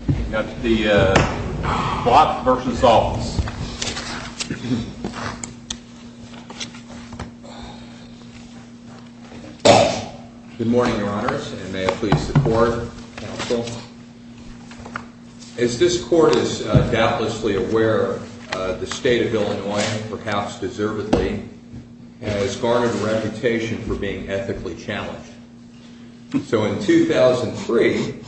Good morning, Your Honors, and may it please the Court, Counsel. As this Court is doubtlessly aware, the State of Illinois, perhaps deservedly, has garnered a reputation for being ethically challenged. So in 2003,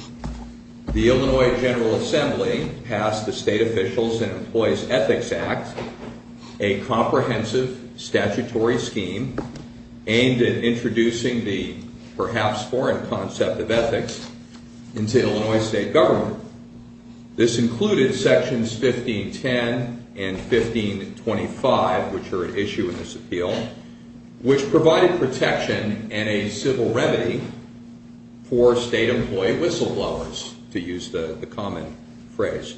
the Illinois General Assembly passed the State Officials and Employees Ethics Act, a comprehensive statutory scheme aimed at introducing the perhaps foreign concept of ethics into Illinois State Government. This included Sections 1510 and 1525, which are at issue in this appeal, which provided protection and a civil remedy for state-employee whistleblowers, to use the common phrase.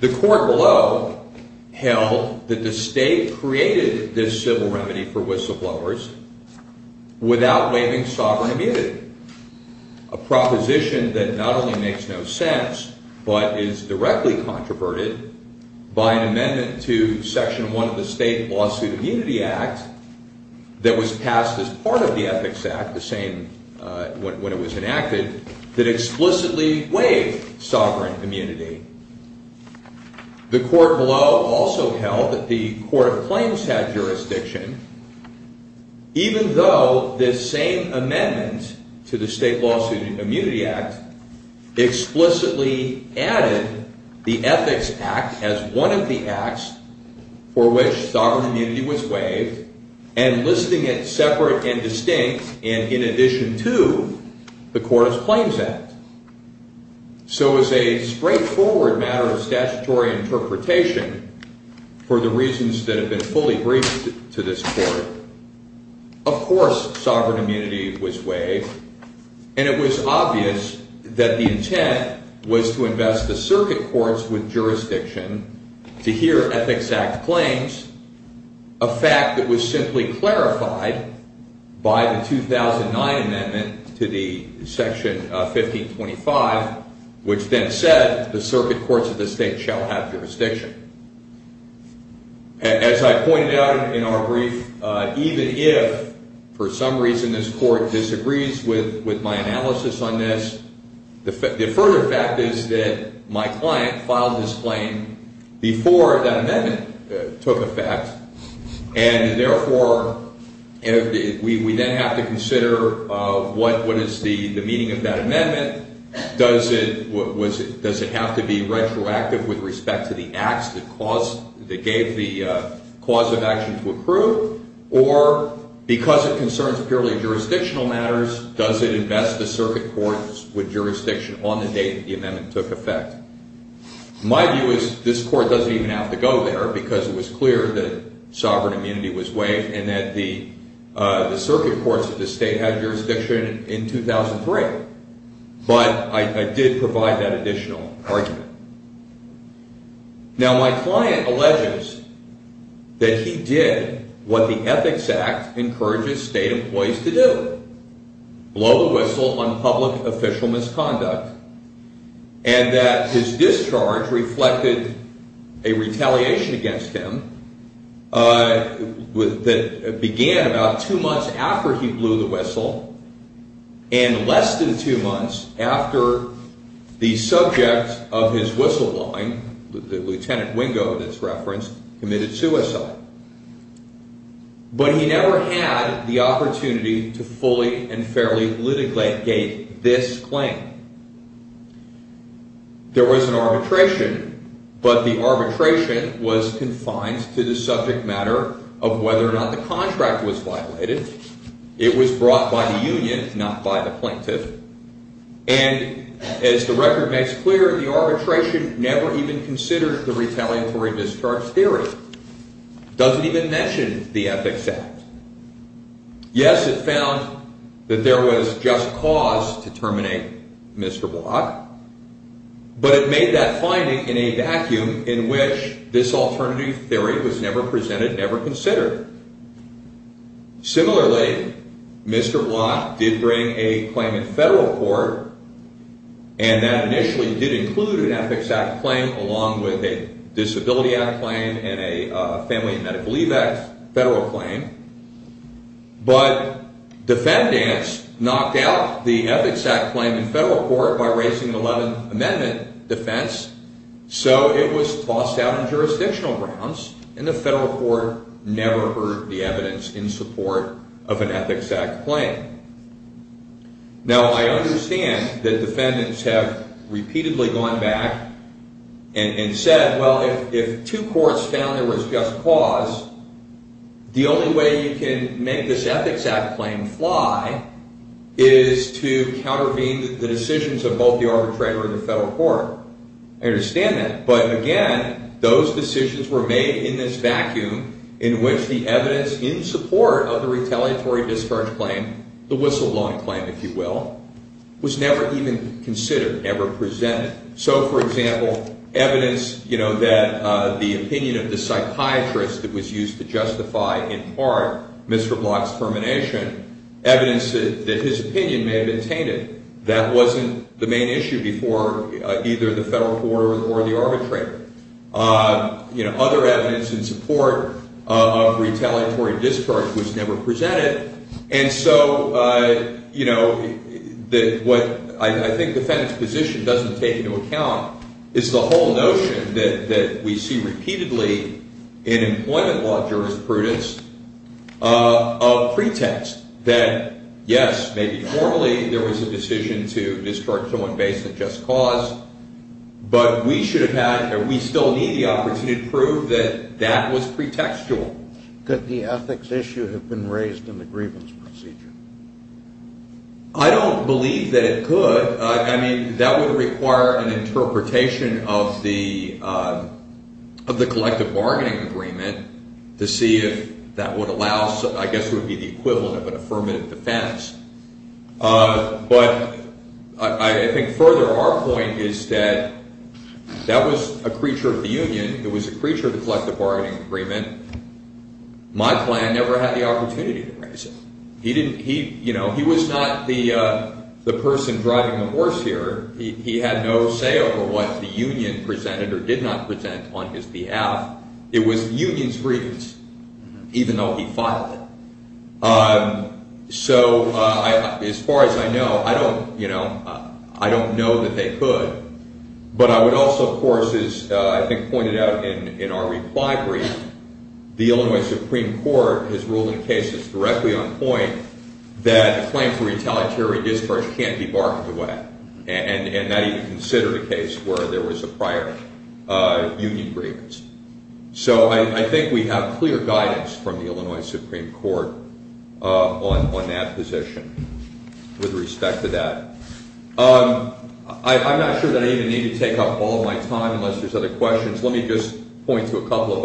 The Court below held that the State created this civil remedy for whistleblowers without waiving sovereign immunity, a proposition that not only makes no sense, but is directly controverted by an amendment to Section 1 of the State Lawsuit Immunity Act that was passed as part of the Ethics Act when it was enacted, that explicitly waived sovereign immunity. The Court below also held that the Court of Claims had jurisdiction, even though this same amendment to the State Lawsuit Immunity Act explicitly added the Ethics Act as one of the acts for which sovereign immunity was waived, and listing it separate and distinct and in addition to the Court of Claims Act. So as a straightforward matter of statutory interpretation, for the reasons that have been fully briefed to this Court, of course sovereign immunity was waived, and it was obvious that the intent was to invest the Circuit Courts with jurisdiction to hear Ethics Act claims, a fact that was simply clarified by the 2009 amendment to the Section 1525, which then said the Circuit Courts of the State shall have jurisdiction. As I pointed out in our brief, even if for some reason this Court disagrees with my analysis on this, the further fact is that my client filed this claim before that amendment took effect, and therefore we then have to consider what is the meaning of that amendment. Does it have to be retroactive with respect to the acts that gave the cause of action to approve, or because it concerns purely jurisdictional matters, does it invest the Circuit Courts with jurisdiction on the date that the amendment took effect? My view is this Court doesn't even have to go there because it was clear that sovereign immunity was waived and that the Circuit Courts of the State had jurisdiction in 2003. But I did provide that additional argument. Now my client alleges that he did what the Ethics Act encourages state employees to do, blow the whistle on public official misconduct, and that his discharge reflected a retaliation against him that began about two months after he blew the whistle, and less than two months after the subject of his retaliation. His whistleblowing, Lt. Wingo in this reference, committed suicide. But he never had the opportunity to fully and fairly litigate this claim. There was an arbitration, but the arbitration was confined to the subject matter of whether or not the contract was violated. It was brought by the union, not by the plaintiff. And as the record makes clear, the arbitration never even considered the retaliatory discharge theory. It doesn't even mention the Ethics Act. Yes, it found that there was just cause to terminate Mr. Block, but it made that finding in a vacuum in which this alternative theory was never presented, never considered. Similarly, Mr. Block did bring a claim in federal court, and that initially did include an Ethics Act claim along with a Disability Act claim and a Family and Medical Leave Act federal claim. But defendants knocked out the Ethics Act claim in federal court by raising an 11th Amendment defense, so it was tossed out on jurisdictional grounds, and the federal court never heard the evidence in support of an Ethics Act claim. Now, I understand that defendants have repeatedly gone back and said, well, if two courts found there was just cause, the only way you can make this Ethics Act claim fly is to countervene the decisions of both the arbitrator and the federal court. I understand that, but again, those decisions were made in this vacuum in which the evidence in support of the retaliatory discharge claim, the whistleblower claim, if you will, was never even considered, never presented. So, for example, evidence that the opinion of the psychiatrist that was used to justify, in part, Mr. Block's termination, evidence that his opinion may have been tainted, that wasn't the main issue before either the federal court or the arbitrator. Other evidence in support of retaliatory discharge was never presented, and so I think defendants' position doesn't take into account is the whole notion that we see repeatedly in employment law jurisprudence of pretext that, yes, maybe formally there was a decision to discharge someone based on just cause, but we still need the opportunity to prove that that was pretextual. Could the ethics issue have been raised in the grievance procedure? I don't believe that it could. I mean, that would require an interpretation of the collective bargaining agreement to see if that would allow, I guess it would be the equivalent of an affirmative defense. But I think further, our point is that that was a creature of the union. It was a creature of the collective bargaining agreement. My client never had the opportunity to raise it. He was not the person driving the horse here. He had no say over what the union presented or did not present on his behalf. It was the union's grievance, even though he filed it. So as far as I know, I don't know that they could. But I would also, of course, as I think pointed out in our reply brief, the Illinois Supreme Court has ruled in cases directly on point that a claim for retaliatory discharge can't be bargained away. And that even considered a case where there was a prior union grievance. So I think we have clear guidance from the Illinois Supreme Court on that position with respect to that. I'm not sure that I even need to take up all of my time unless there's other questions. Let me just point to a couple of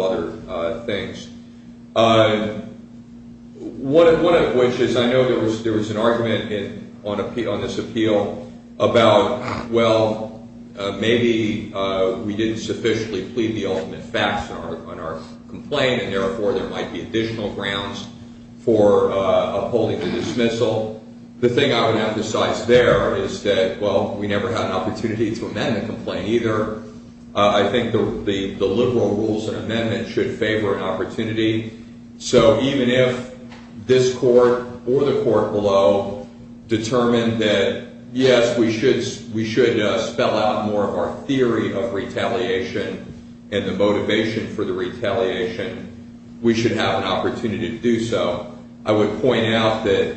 other things. One of which is I know there was an argument on this appeal about, well, maybe we didn't sufficiently plead the ultimate facts on our complaint. And therefore, there might be additional grounds for upholding the dismissal. The thing I would emphasize there is that, well, we never had an opportunity to amend the complaint either. I think the liberal rules and amendments should favor an opportunity. So even if this court or the court below determined that, yes, we should spell out more of our theory of retaliation and the motivation for the retaliation, we should have an opportunity to do so. I would point out that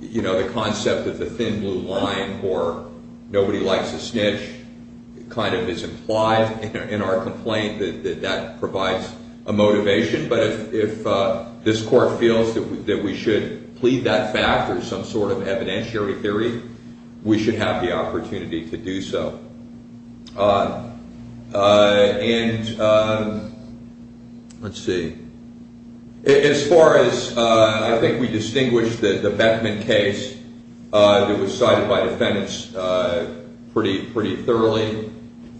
the concept of the thin blue line or nobody likes a snitch kind of is implied in our complaint, that that provides a motivation. But if this court feels that we should plead that fact or some sort of evidentiary theory, we should have the opportunity to do so. And let's see. As far as I think we distinguished the Beckman case that was cited by defendants pretty thoroughly,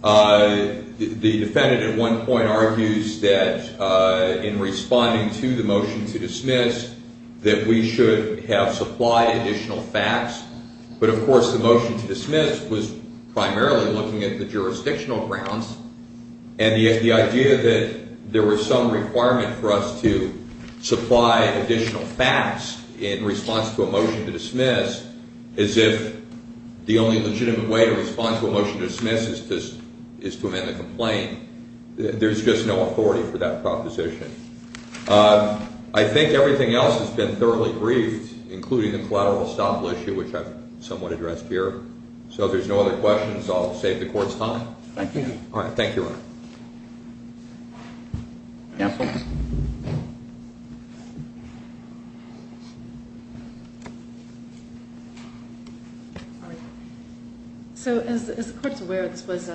the defendant at one point argues that in responding to the motion to dismiss that we should have supplied additional facts. But, of course, the motion to dismiss was primarily looking at the jurisdictional grounds and the idea that there was some requirement for us to supply additional facts in response to a motion to dismiss as if the only legitimate way to respond to a motion to dismiss is to amend the complaint. There's just no authority for that proposition. I think everything else has been thoroughly briefed, including the collateral estoppel issue, which I've somewhat addressed here. So if there's no other questions, I'll save the court's time. Thank you. All right. Thank you, Your Honor. Counsel? So as the court's aware, this was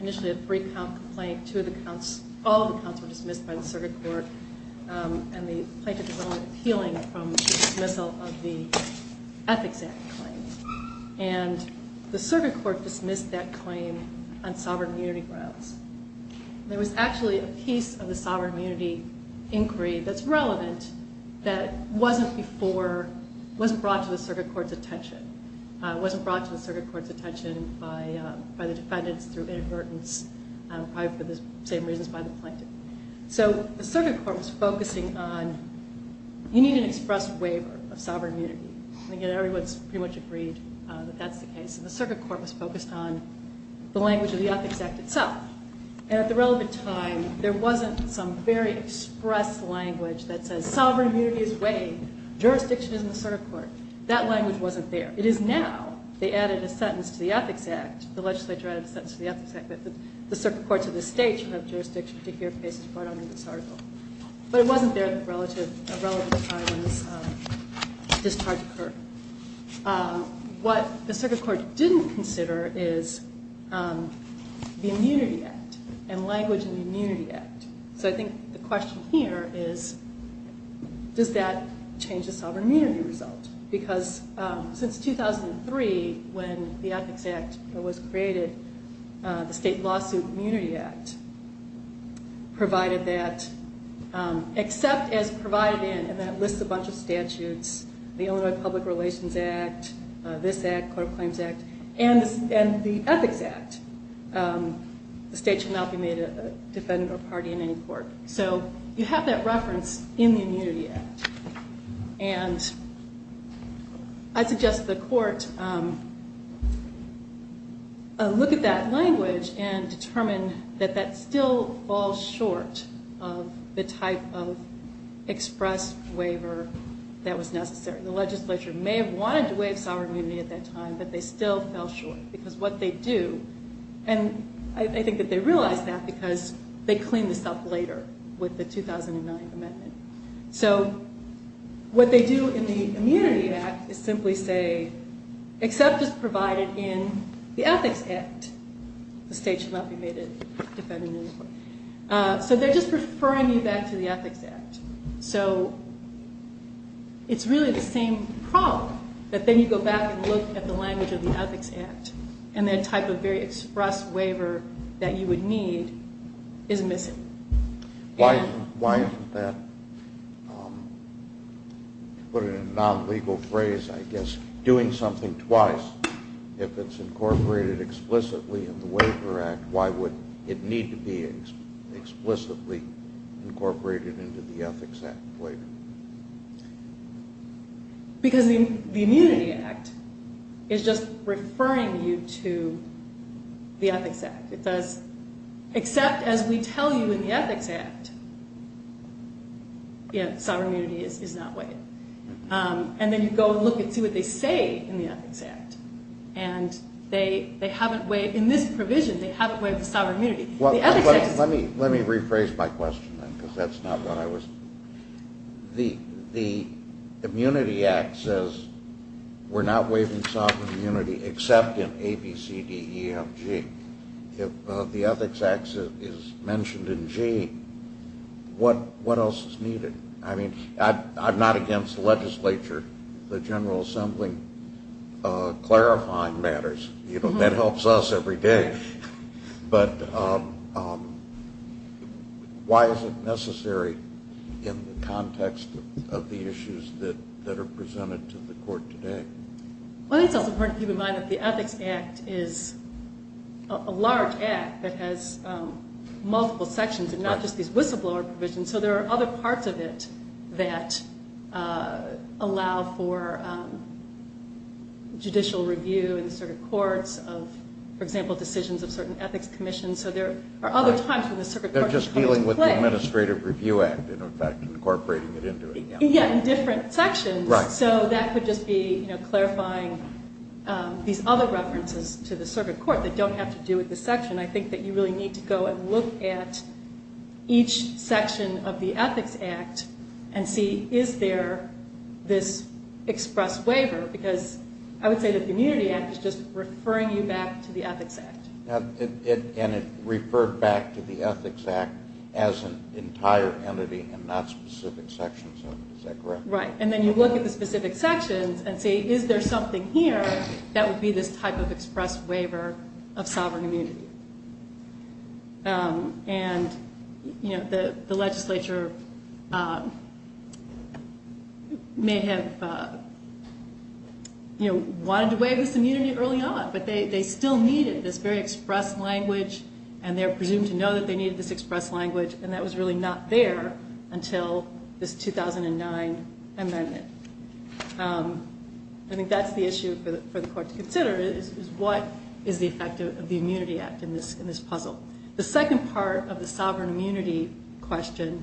initially a three-count complaint. All of the counts were dismissed by the circuit court, and the plaintiff is only appealing from the dismissal of the Ethics Act claim. And the circuit court dismissed that claim on sovereign immunity grounds. There was actually a piece of the sovereign immunity inquiry that's relevant that wasn't brought to the circuit court's attention. It wasn't brought to the circuit court's attention by the defendants through inadvertence, probably for the same reasons by the plaintiff. So the circuit court was focusing on you need an express waiver of sovereign immunity. And, again, everyone's pretty much agreed that that's the case. And the circuit court was focused on the language of the Ethics Act itself. And at the relevant time, there wasn't some very express language that says sovereign immunity is waived. Jurisdiction is in the circuit court. That language wasn't there. It is now. They added a sentence to the Ethics Act. The legislature added a sentence to the Ethics Act. But the circuit courts of the state should have jurisdiction to hear cases brought under this article. But it wasn't there at the relative time when this discharge occurred. What the circuit court didn't consider is the Immunity Act and language in the Immunity Act. So I think the question here is does that change the sovereign immunity result? Because since 2003, when the Ethics Act was created, the State Lawsuit Immunity Act provided that except as provided in, and that lists a bunch of statutes, the Illinois Public Relations Act, this Act, Court of Claims Act, and the Ethics Act, the state should not be made a defendant or party in any court. So you have that reference in the Immunity Act. And I suggest the court look at that language and determine that that still falls short of the type of express waiver that was necessary. The legislature may have wanted to waive sovereign immunity at that time, but they still fell short because what they do, and I think that they realized that because they cleaned this up later with the 2009 amendment. So what they do in the Immunity Act is simply say except as provided in the Ethics Act, the state should not be made a defendant. So they're just referring you back to the Ethics Act. So it's really the same problem, that then you go back and look at the language of the Ethics Act and that type of very express waiver that you would need is missing. Why isn't that, to put it in a non-legal phrase, I guess, doing something twice? If it's incorporated explicitly in the Waiver Act, why would it need to be explicitly incorporated into the Ethics Act waiver? Because the Immunity Act is just referring you to the Ethics Act. It says except as we tell you in the Ethics Act, sovereign immunity is not waived. And then you go and look and see what they say in the Ethics Act. And they haven't waived, in this provision, they haven't waived the sovereign immunity. Let me rephrase my question then because that's not what I was... The Immunity Act says we're not waiving sovereign immunity except in A, B, C, D, E, F, G. If the Ethics Act is mentioned in G, what else is needed? I mean, I'm not against the legislature. The General Assembly clarifying matters. You know, that helps us every day. But why is it necessary in the context of the issues that are presented to the court today? Well, I think it's also important to keep in mind that the Ethics Act is a large act that has multiple sections and not just these whistleblower provisions. So there are other parts of it that allow for judicial review in the circuit courts of, for example, decisions of certain ethics commissions. So there are other times when the circuit court should come into play. They're just dealing with the Administrative Review Act, in effect, incorporating it into it. Yeah, in different sections. So that could just be clarifying these other references to the circuit court that don't have to do with this section. I think that you really need to go and look at each section of the Ethics Act and see, is there this express waiver? Because I would say that the Immunity Act is just referring you back to the Ethics Act. And it referred back to the Ethics Act as an entire entity and not specific sections of it. Is that correct? Right. And then you look at the specific sections and say, is there something here that would be this type of express waiver of sovereign immunity? And, you know, the legislature may have, you know, wanted to waive this immunity early on, but they still needed this very express language, and they're presumed to know that they needed this express language, and that was really not there until this 2009 amendment. I think that's the issue for the court to consider is what is the effect of the Immunity Act in this puzzle. The second part of the sovereign immunity question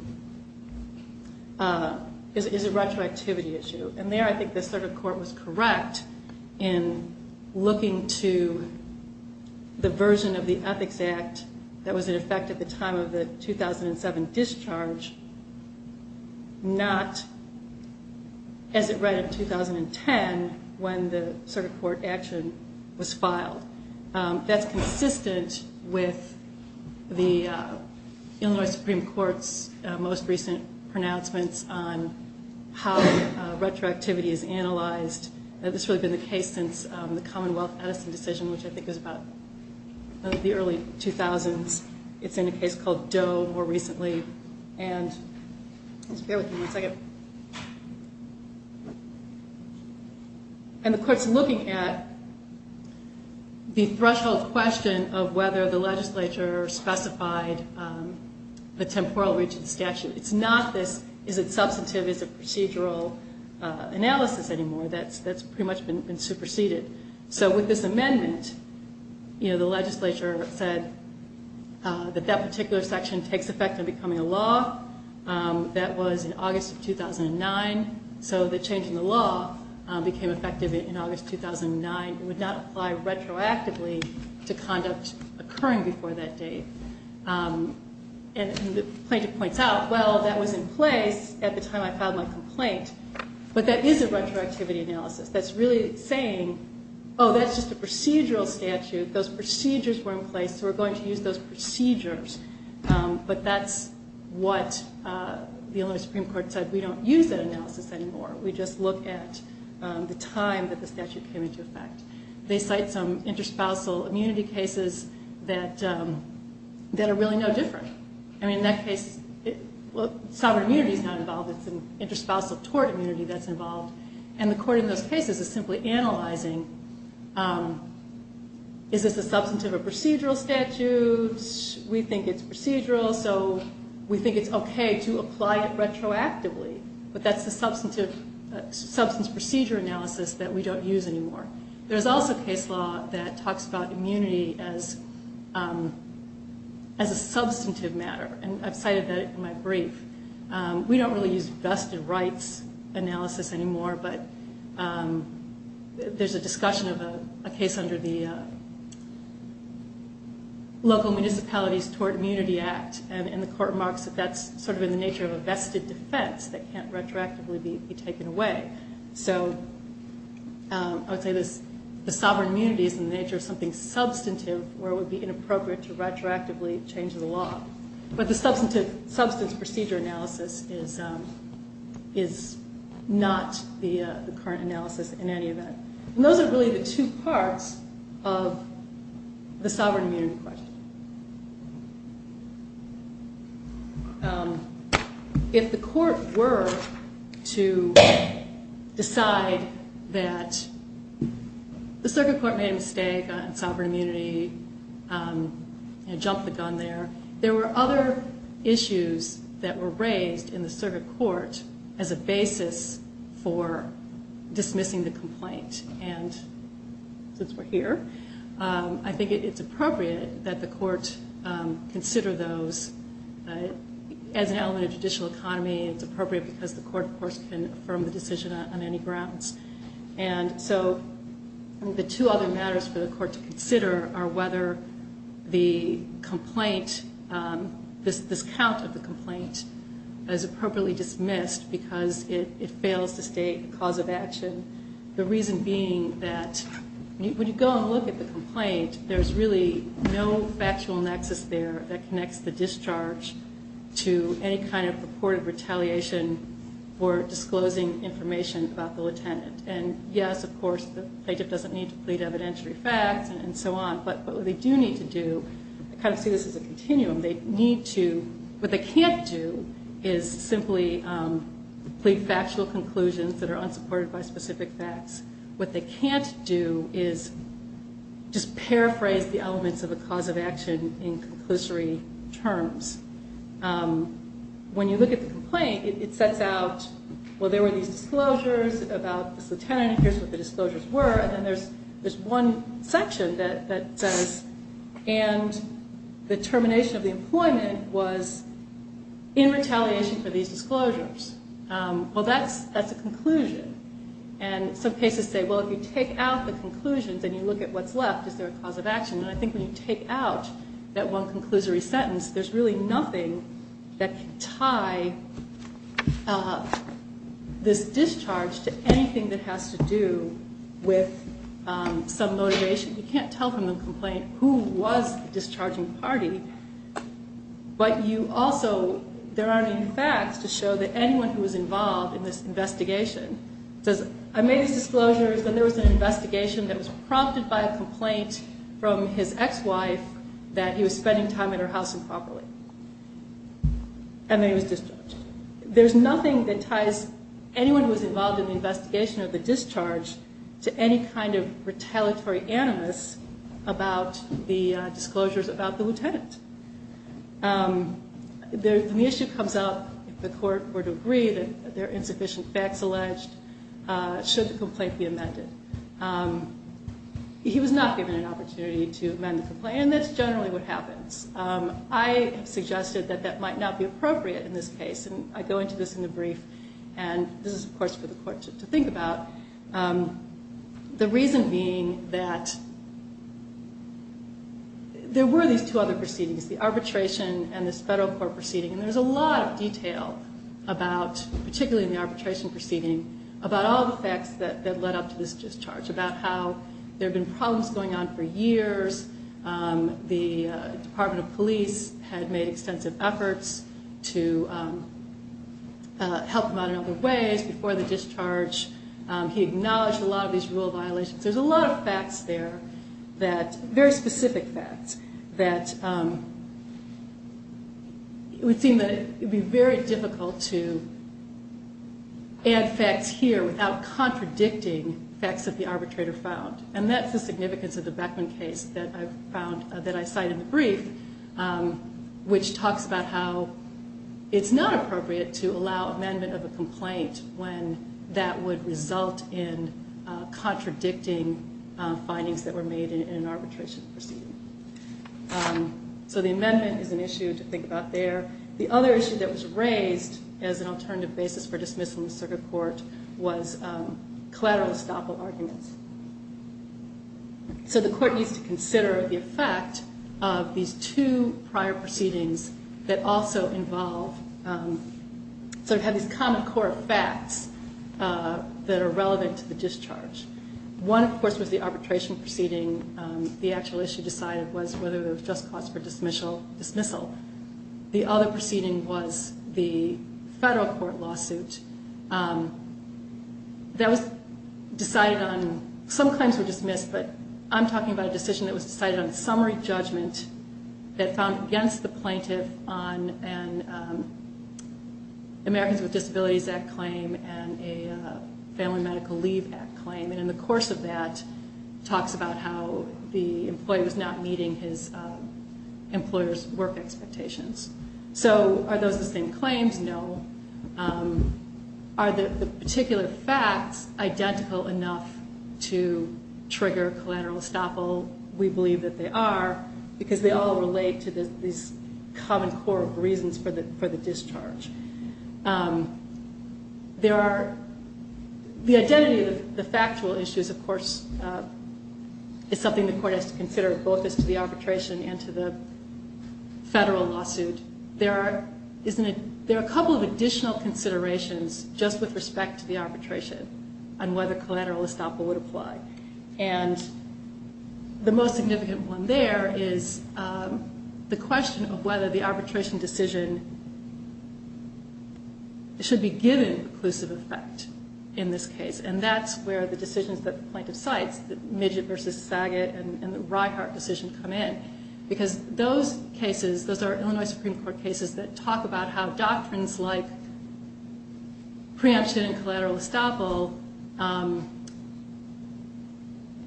is a retroactivity issue. And there I think the circuit court was correct in looking to the version of the Ethics Act that was in effect at the time of the 2007 discharge, not as it read in 2010 when the circuit court action was filed. That's consistent with the Illinois Supreme Court's most recent pronouncements on how retroactivity is analyzed. And this has really been the case since the Commonwealth Edison decision, which I think is about the early 2000s. It's in a case called Doe more recently. And let's bear with me one second. And the court's looking at the threshold question of whether the legislature specified the temporal reach of the statute. It's not this is it substantive, is it procedural analysis anymore. That's pretty much been superseded. So with this amendment, the legislature said that that particular section takes effect in becoming a law. That was in August of 2009. So the change in the law became effective in August 2009. It would not apply retroactively to conduct occurring before that date. And the plaintiff points out, well, that was in place at the time I filed my complaint. But that is a retroactivity analysis. That's really saying, oh, that's just a procedural statute. Those procedures were in place, so we're going to use those procedures. But that's what the Illinois Supreme Court said. We don't use that analysis anymore. We just look at the time that the statute came into effect. They cite some interspousal immunity cases that are really no different. I mean, in that case, sovereign immunity is not involved. It's an interspousal tort immunity that's involved. And the court in those cases is simply analyzing is this a substantive or procedural statute. We think it's procedural, so we think it's okay to apply it retroactively. But that's the substance procedure analysis that we don't use anymore. There's also case law that talks about immunity as a substantive matter. And I've cited that in my brief. We don't really use vested rights analysis anymore, but there's a discussion of a case under the Local Municipalities Tort Immunity Act. And the court marks that that's sort of in the nature of a vested defense that can't retroactively be taken away. So I would say the sovereign immunity is in the nature of something substantive where it would be inappropriate to retroactively change the law. But the substance procedure analysis is not the current analysis in any event. And those are really the two parts of the sovereign immunity question. If the court were to decide that the circuit court made a mistake on sovereign immunity and jumped the gun there, there were other issues that were raised in the circuit court as a basis for dismissing the complaint. And since we're here, I think it's appropriate that the court consider those as an element of judicial economy. It's appropriate because the court, of course, can affirm the decision on any grounds. And so the two other matters for the court to consider are whether the complaint, this count of the complaint, is appropriately dismissed because it fails to state a cause of action. The reason being that when you go and look at the complaint, there's really no factual nexus there that connects the discharge to any kind of purported retaliation for disclosing information about the lieutenant. And yes, of course, the plaintiff doesn't need to plead evidentiary facts and so on. But what they do need to do, I kind of see this as a continuum, they need to, what they can't do is simply plead factual conclusions that are unsupported by specific facts. What they can't do is just paraphrase the elements of a cause of action in conclusory terms. When you look at the complaint, it sets out, well, there were these disclosures about this lieutenant, here's what the disclosures were, and there's one section that says, and the termination of the employment was in retaliation for these disclosures. Well, that's a conclusion. And some cases say, well, if you take out the conclusions and you look at what's left, is there a cause of action? And I think when you take out that one conclusory sentence, there's really nothing that can tie this discharge to anything that has to do with some motivation. You can't tell from the complaint who was the discharging party, but you also, there aren't any facts to show that anyone who was involved in this investigation says, I made these disclosures, and there was an investigation that was prompted by a complaint from his ex-wife that he was spending time at her house improperly, and then he was discharged. There's nothing that ties anyone who was involved in the investigation of the discharge to any kind of retaliatory animus about the disclosures about the lieutenant. When the issue comes up, if the court were to agree that there are insufficient facts alleged, should the complaint be amended? He was not given an opportunity to amend the complaint, and that's generally what happens. I have suggested that that might not be appropriate in this case, and I go into this in the brief, and this is, of course, for the court to think about. The reason being that there were these two other proceedings, the arbitration and this federal court proceeding, and there's a lot of detail about, particularly in the arbitration proceeding, about all the facts that led up to this discharge, about how there had been problems going on for years. The Department of Police had made extensive efforts to help him out in other ways before the discharge. He acknowledged a lot of these rule violations. There's a lot of facts there, very specific facts, that it would seem that it would be very difficult to add facts here without contradicting facts that the arbitrator found, and that's the significance of the Beckman case that I cite in the brief, which talks about how it's not appropriate to allow amendment of a complaint when that would result in contradicting findings that were made in an arbitration proceeding. So the amendment is an issue to think about there. The other issue that was raised as an alternative basis for dismissal in the circuit court was collateral estoppel arguments. So the court needs to consider the effect of these two prior proceedings that also involve these common core facts that are relevant to the discharge. One, of course, was the arbitration proceeding. The actual issue decided was whether there was just cause for dismissal. The other proceeding was the federal court lawsuit that was decided on. Some claims were dismissed, but I'm talking about a decision that was decided on a summary judgment that found against the plaintiff on an Americans with Disabilities Act claim and a Family Medical Leave Act claim. And in the course of that, it talks about how the employee was not meeting his employer's work expectations. So are those the same claims? No. Are the particular facts identical enough to trigger collateral estoppel? We believe that they are, because they all relate to these common core reasons for the discharge. The identity of the factual issues, of course, is something the court has to consider, both as to the arbitration and to the federal lawsuit. There are a couple of additional considerations just with respect to the arbitration on whether collateral estoppel would apply. And the most significant one there is the question of whether the arbitration decision should be given inclusive effect in this case. And that's where the decisions that the plaintiff cites, the Midget versus Saget and the Reihart decision come in, because those cases, those are Illinois Supreme Court cases that talk about how doctrines like preemption and collateral estoppel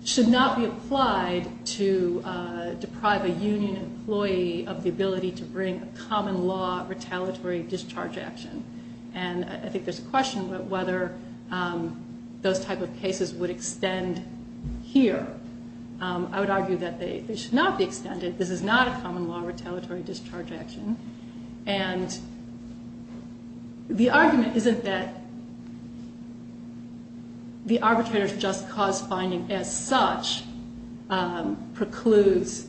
should not be applied to deprive a union employee of the ability to bring a common law retaliatory discharge action. And I think there's a question about whether those type of cases would extend here. I would argue that they should not be extended. This is not a common law retaliatory discharge action. And the argument isn't that the arbitrator's just cause finding as such precludes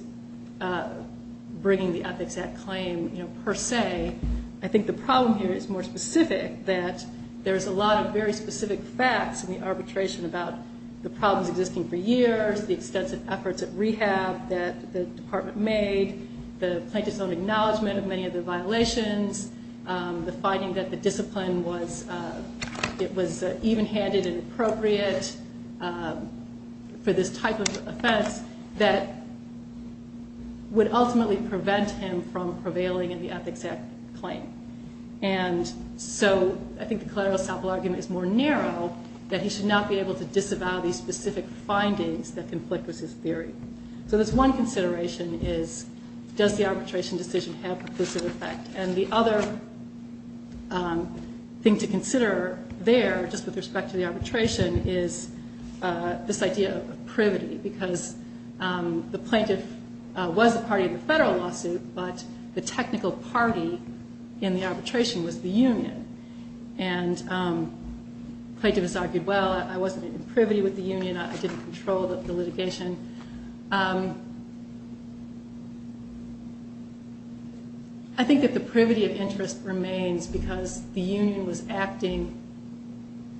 bringing the Ethics Act claim per se. I think the problem here is more specific, that there's a lot of very specific facts in the arbitration about the problems existing for years, the extensive efforts at rehab that the department made, the plaintiff's own acknowledgement of many of the violations, the finding that the discipline was even-handed and appropriate for this type of offense that would ultimately prevent him from prevailing in the Ethics Act claim. And so I think the collateral estoppel argument is more narrow, that he should not be able to disavow these specific findings that conflict with his theory. So this one consideration is, does the arbitration decision have perclusive effect? And the other thing to consider there, just with respect to the arbitration, is this idea of privity, because the plaintiff was a party of the federal lawsuit, but the technical party in the arbitration was the union. And the plaintiff has argued, well, I wasn't in privity with the union, I didn't control the litigation. I think that the privity of interest remains because the union was acting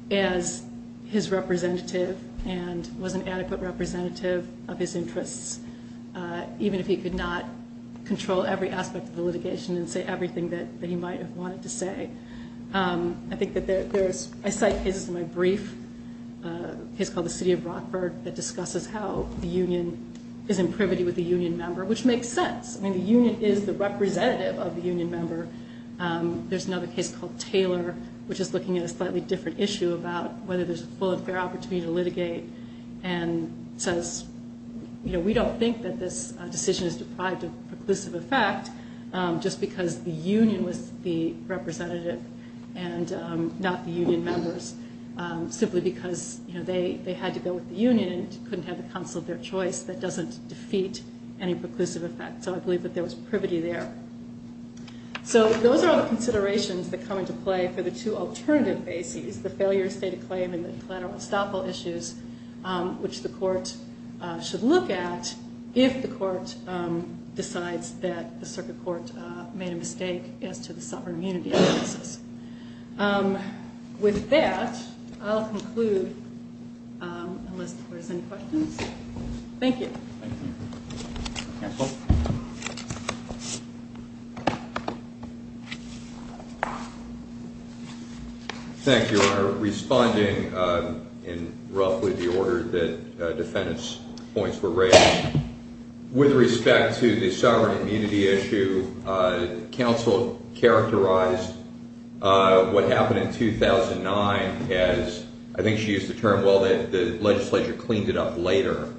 as his representative and was an adequate representative of his interests, even if he could not control every aspect of the litigation and say everything that he might have wanted to say. I cite cases in my brief, a case called the City of Brockford, that discusses how the union is in privity with a union member, which makes sense. I mean, the union is the representative of the union member. There's another case called Taylor, which is looking at a slightly different issue about whether there's a full and fair opportunity to litigate, and says, you know, we don't think that this decision is deprived of perclusive effect just because the union was the representative and not the union members, simply because they had to go with the union and couldn't have the counsel of their choice. That doesn't defeat any preclusive effect. So I believe that there was privity there. So those are all the considerations that come into play for the two alternative bases, the failure of state of claim and the collateral estoppel issues, which the court should look at if the court decides that the circuit court made a mistake as to the sovereign immunity process. With that, I'll conclude unless there's any questions. Thank you. Thank you, Your Honor. Responding in roughly the order that defendants' points were raised, with respect to the sovereign immunity issue, counsel characterized what happened in 2009 as, I think she used the term, well, the legislature cleaned it up later.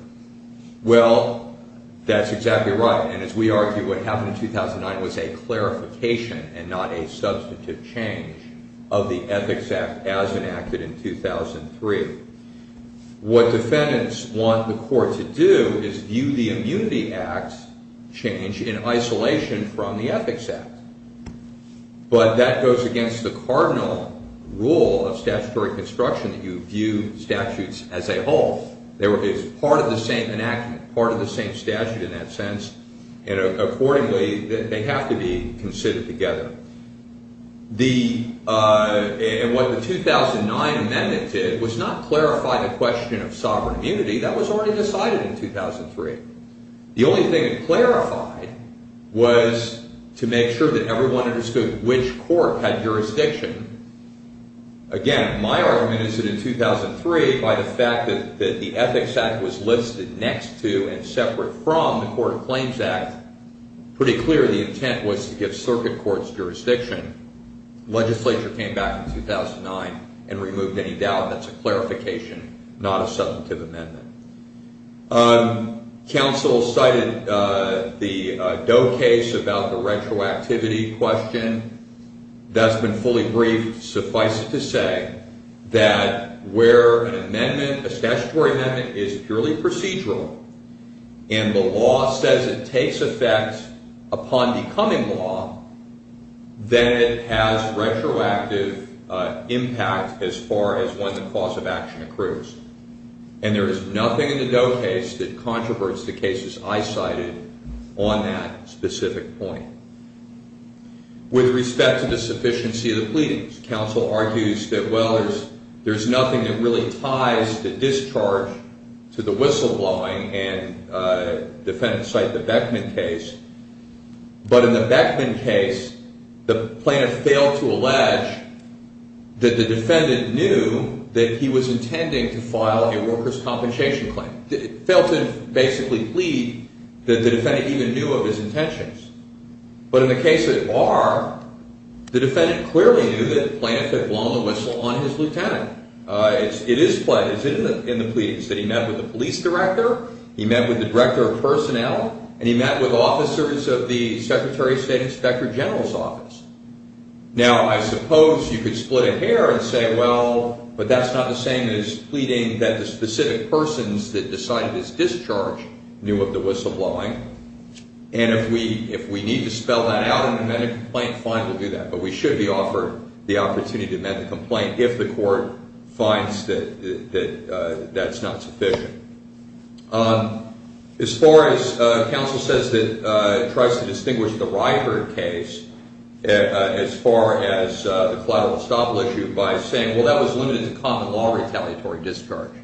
Well, that's exactly right. And as we argue, what happened in 2009 was a clarification and not a substantive change of the Ethics Act as enacted in 2003. What defendants want the court to do is view the Immunity Act change in isolation from the Ethics Act. But that goes against the cardinal rule of statutory construction that you view statutes as a whole. It's part of the same enactment, part of the same statute in that sense. And accordingly, they have to be considered together. And what the 2009 amendment did was not clarify the question of sovereign immunity. That was already decided in 2003. The only thing it clarified was to make sure that everyone understood which court had jurisdiction. Again, my argument is that in 2003, by the fact that the Ethics Act was listed next to and separate from the Court of Claims Act, pretty clear the intent was to give circuit courts jurisdiction. Legislature came back in 2009 and removed any doubt. That's a clarification, not a substantive amendment. Council cited the Doe case about the retroactivity question. That's been fully briefed. Suffice it to say that where an amendment, a statutory amendment, is purely procedural and the law says it takes effect upon becoming law, then it has retroactive impact as far as when the cause of action accrues. And there is nothing in the Doe case that controverses the cases I cited on that specific point. With respect to the sufficiency of the pleadings, counsel argues that, well, there's nothing that really ties the discharge to the whistleblowing, and defendants cite the Beckman case. But in the Beckman case, the plaintiff failed to allege that the defendant knew that he was intending to file a worker's compensation claim. Failed to basically plead that the defendant even knew of his intentions. But in the case of R, the defendant clearly knew that the plaintiff had blown the whistle on his lieutenant. It is in the pleadings that he met with the police director, he met with the director of personnel, and he met with officers of the Secretary of State Inspector General's office. Now, I suppose you could split a hair and say, well, but that's not the same as pleading that the specific persons that decided his discharge knew of the whistleblowing. And if we need to spell that out and amend the complaint, fine, we'll do that. But we should be offered the opportunity to amend the complaint if the court finds that that's not sufficient. As far as counsel says it tries to distinguish the Ryherd case as far as the collateral estoppel issue by saying, well, that was limited to common-law retaliatory discharge.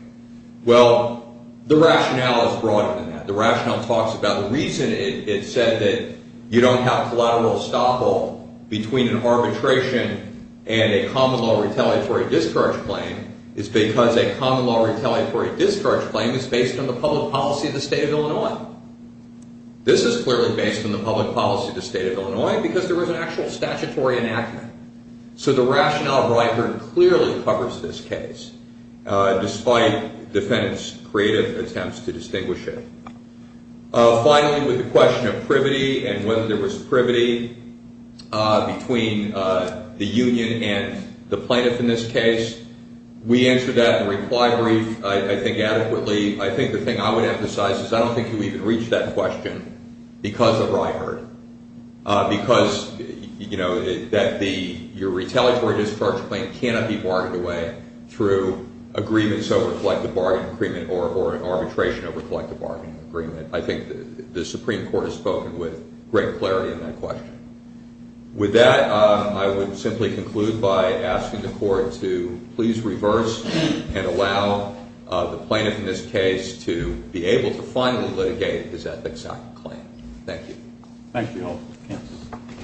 Well, the rationale is broader than that. The rationale talks about the reason it said that you don't have collateral estoppel between an arbitration and a common-law retaliatory discharge claim is because a common-law retaliatory discharge claim is based on the public policy of the state of Illinois. This is clearly based on the public policy of the state of Illinois because there was an actual statutory enactment. So the rationale of Ryherd clearly covers this case despite defendant's creative attempts to distinguish it. Finally, with the question of privity and whether there was privity between the union and the plaintiff in this case, we answered that in a reply brief, I think, adequately. I think the thing I would emphasize is I don't think you even reached that question because of Ryherd, because, you know, that your retaliatory discharge claim cannot be bargained away through agreements over collective bargaining agreement or arbitration over collective bargaining agreement. I think the Supreme Court has spoken with great clarity in that question. With that, I would simply conclude by asking the Court to please reverse and allow the plaintiff in this case to be able to finally litigate his Ethics Act claim. Thank you. Thank you all.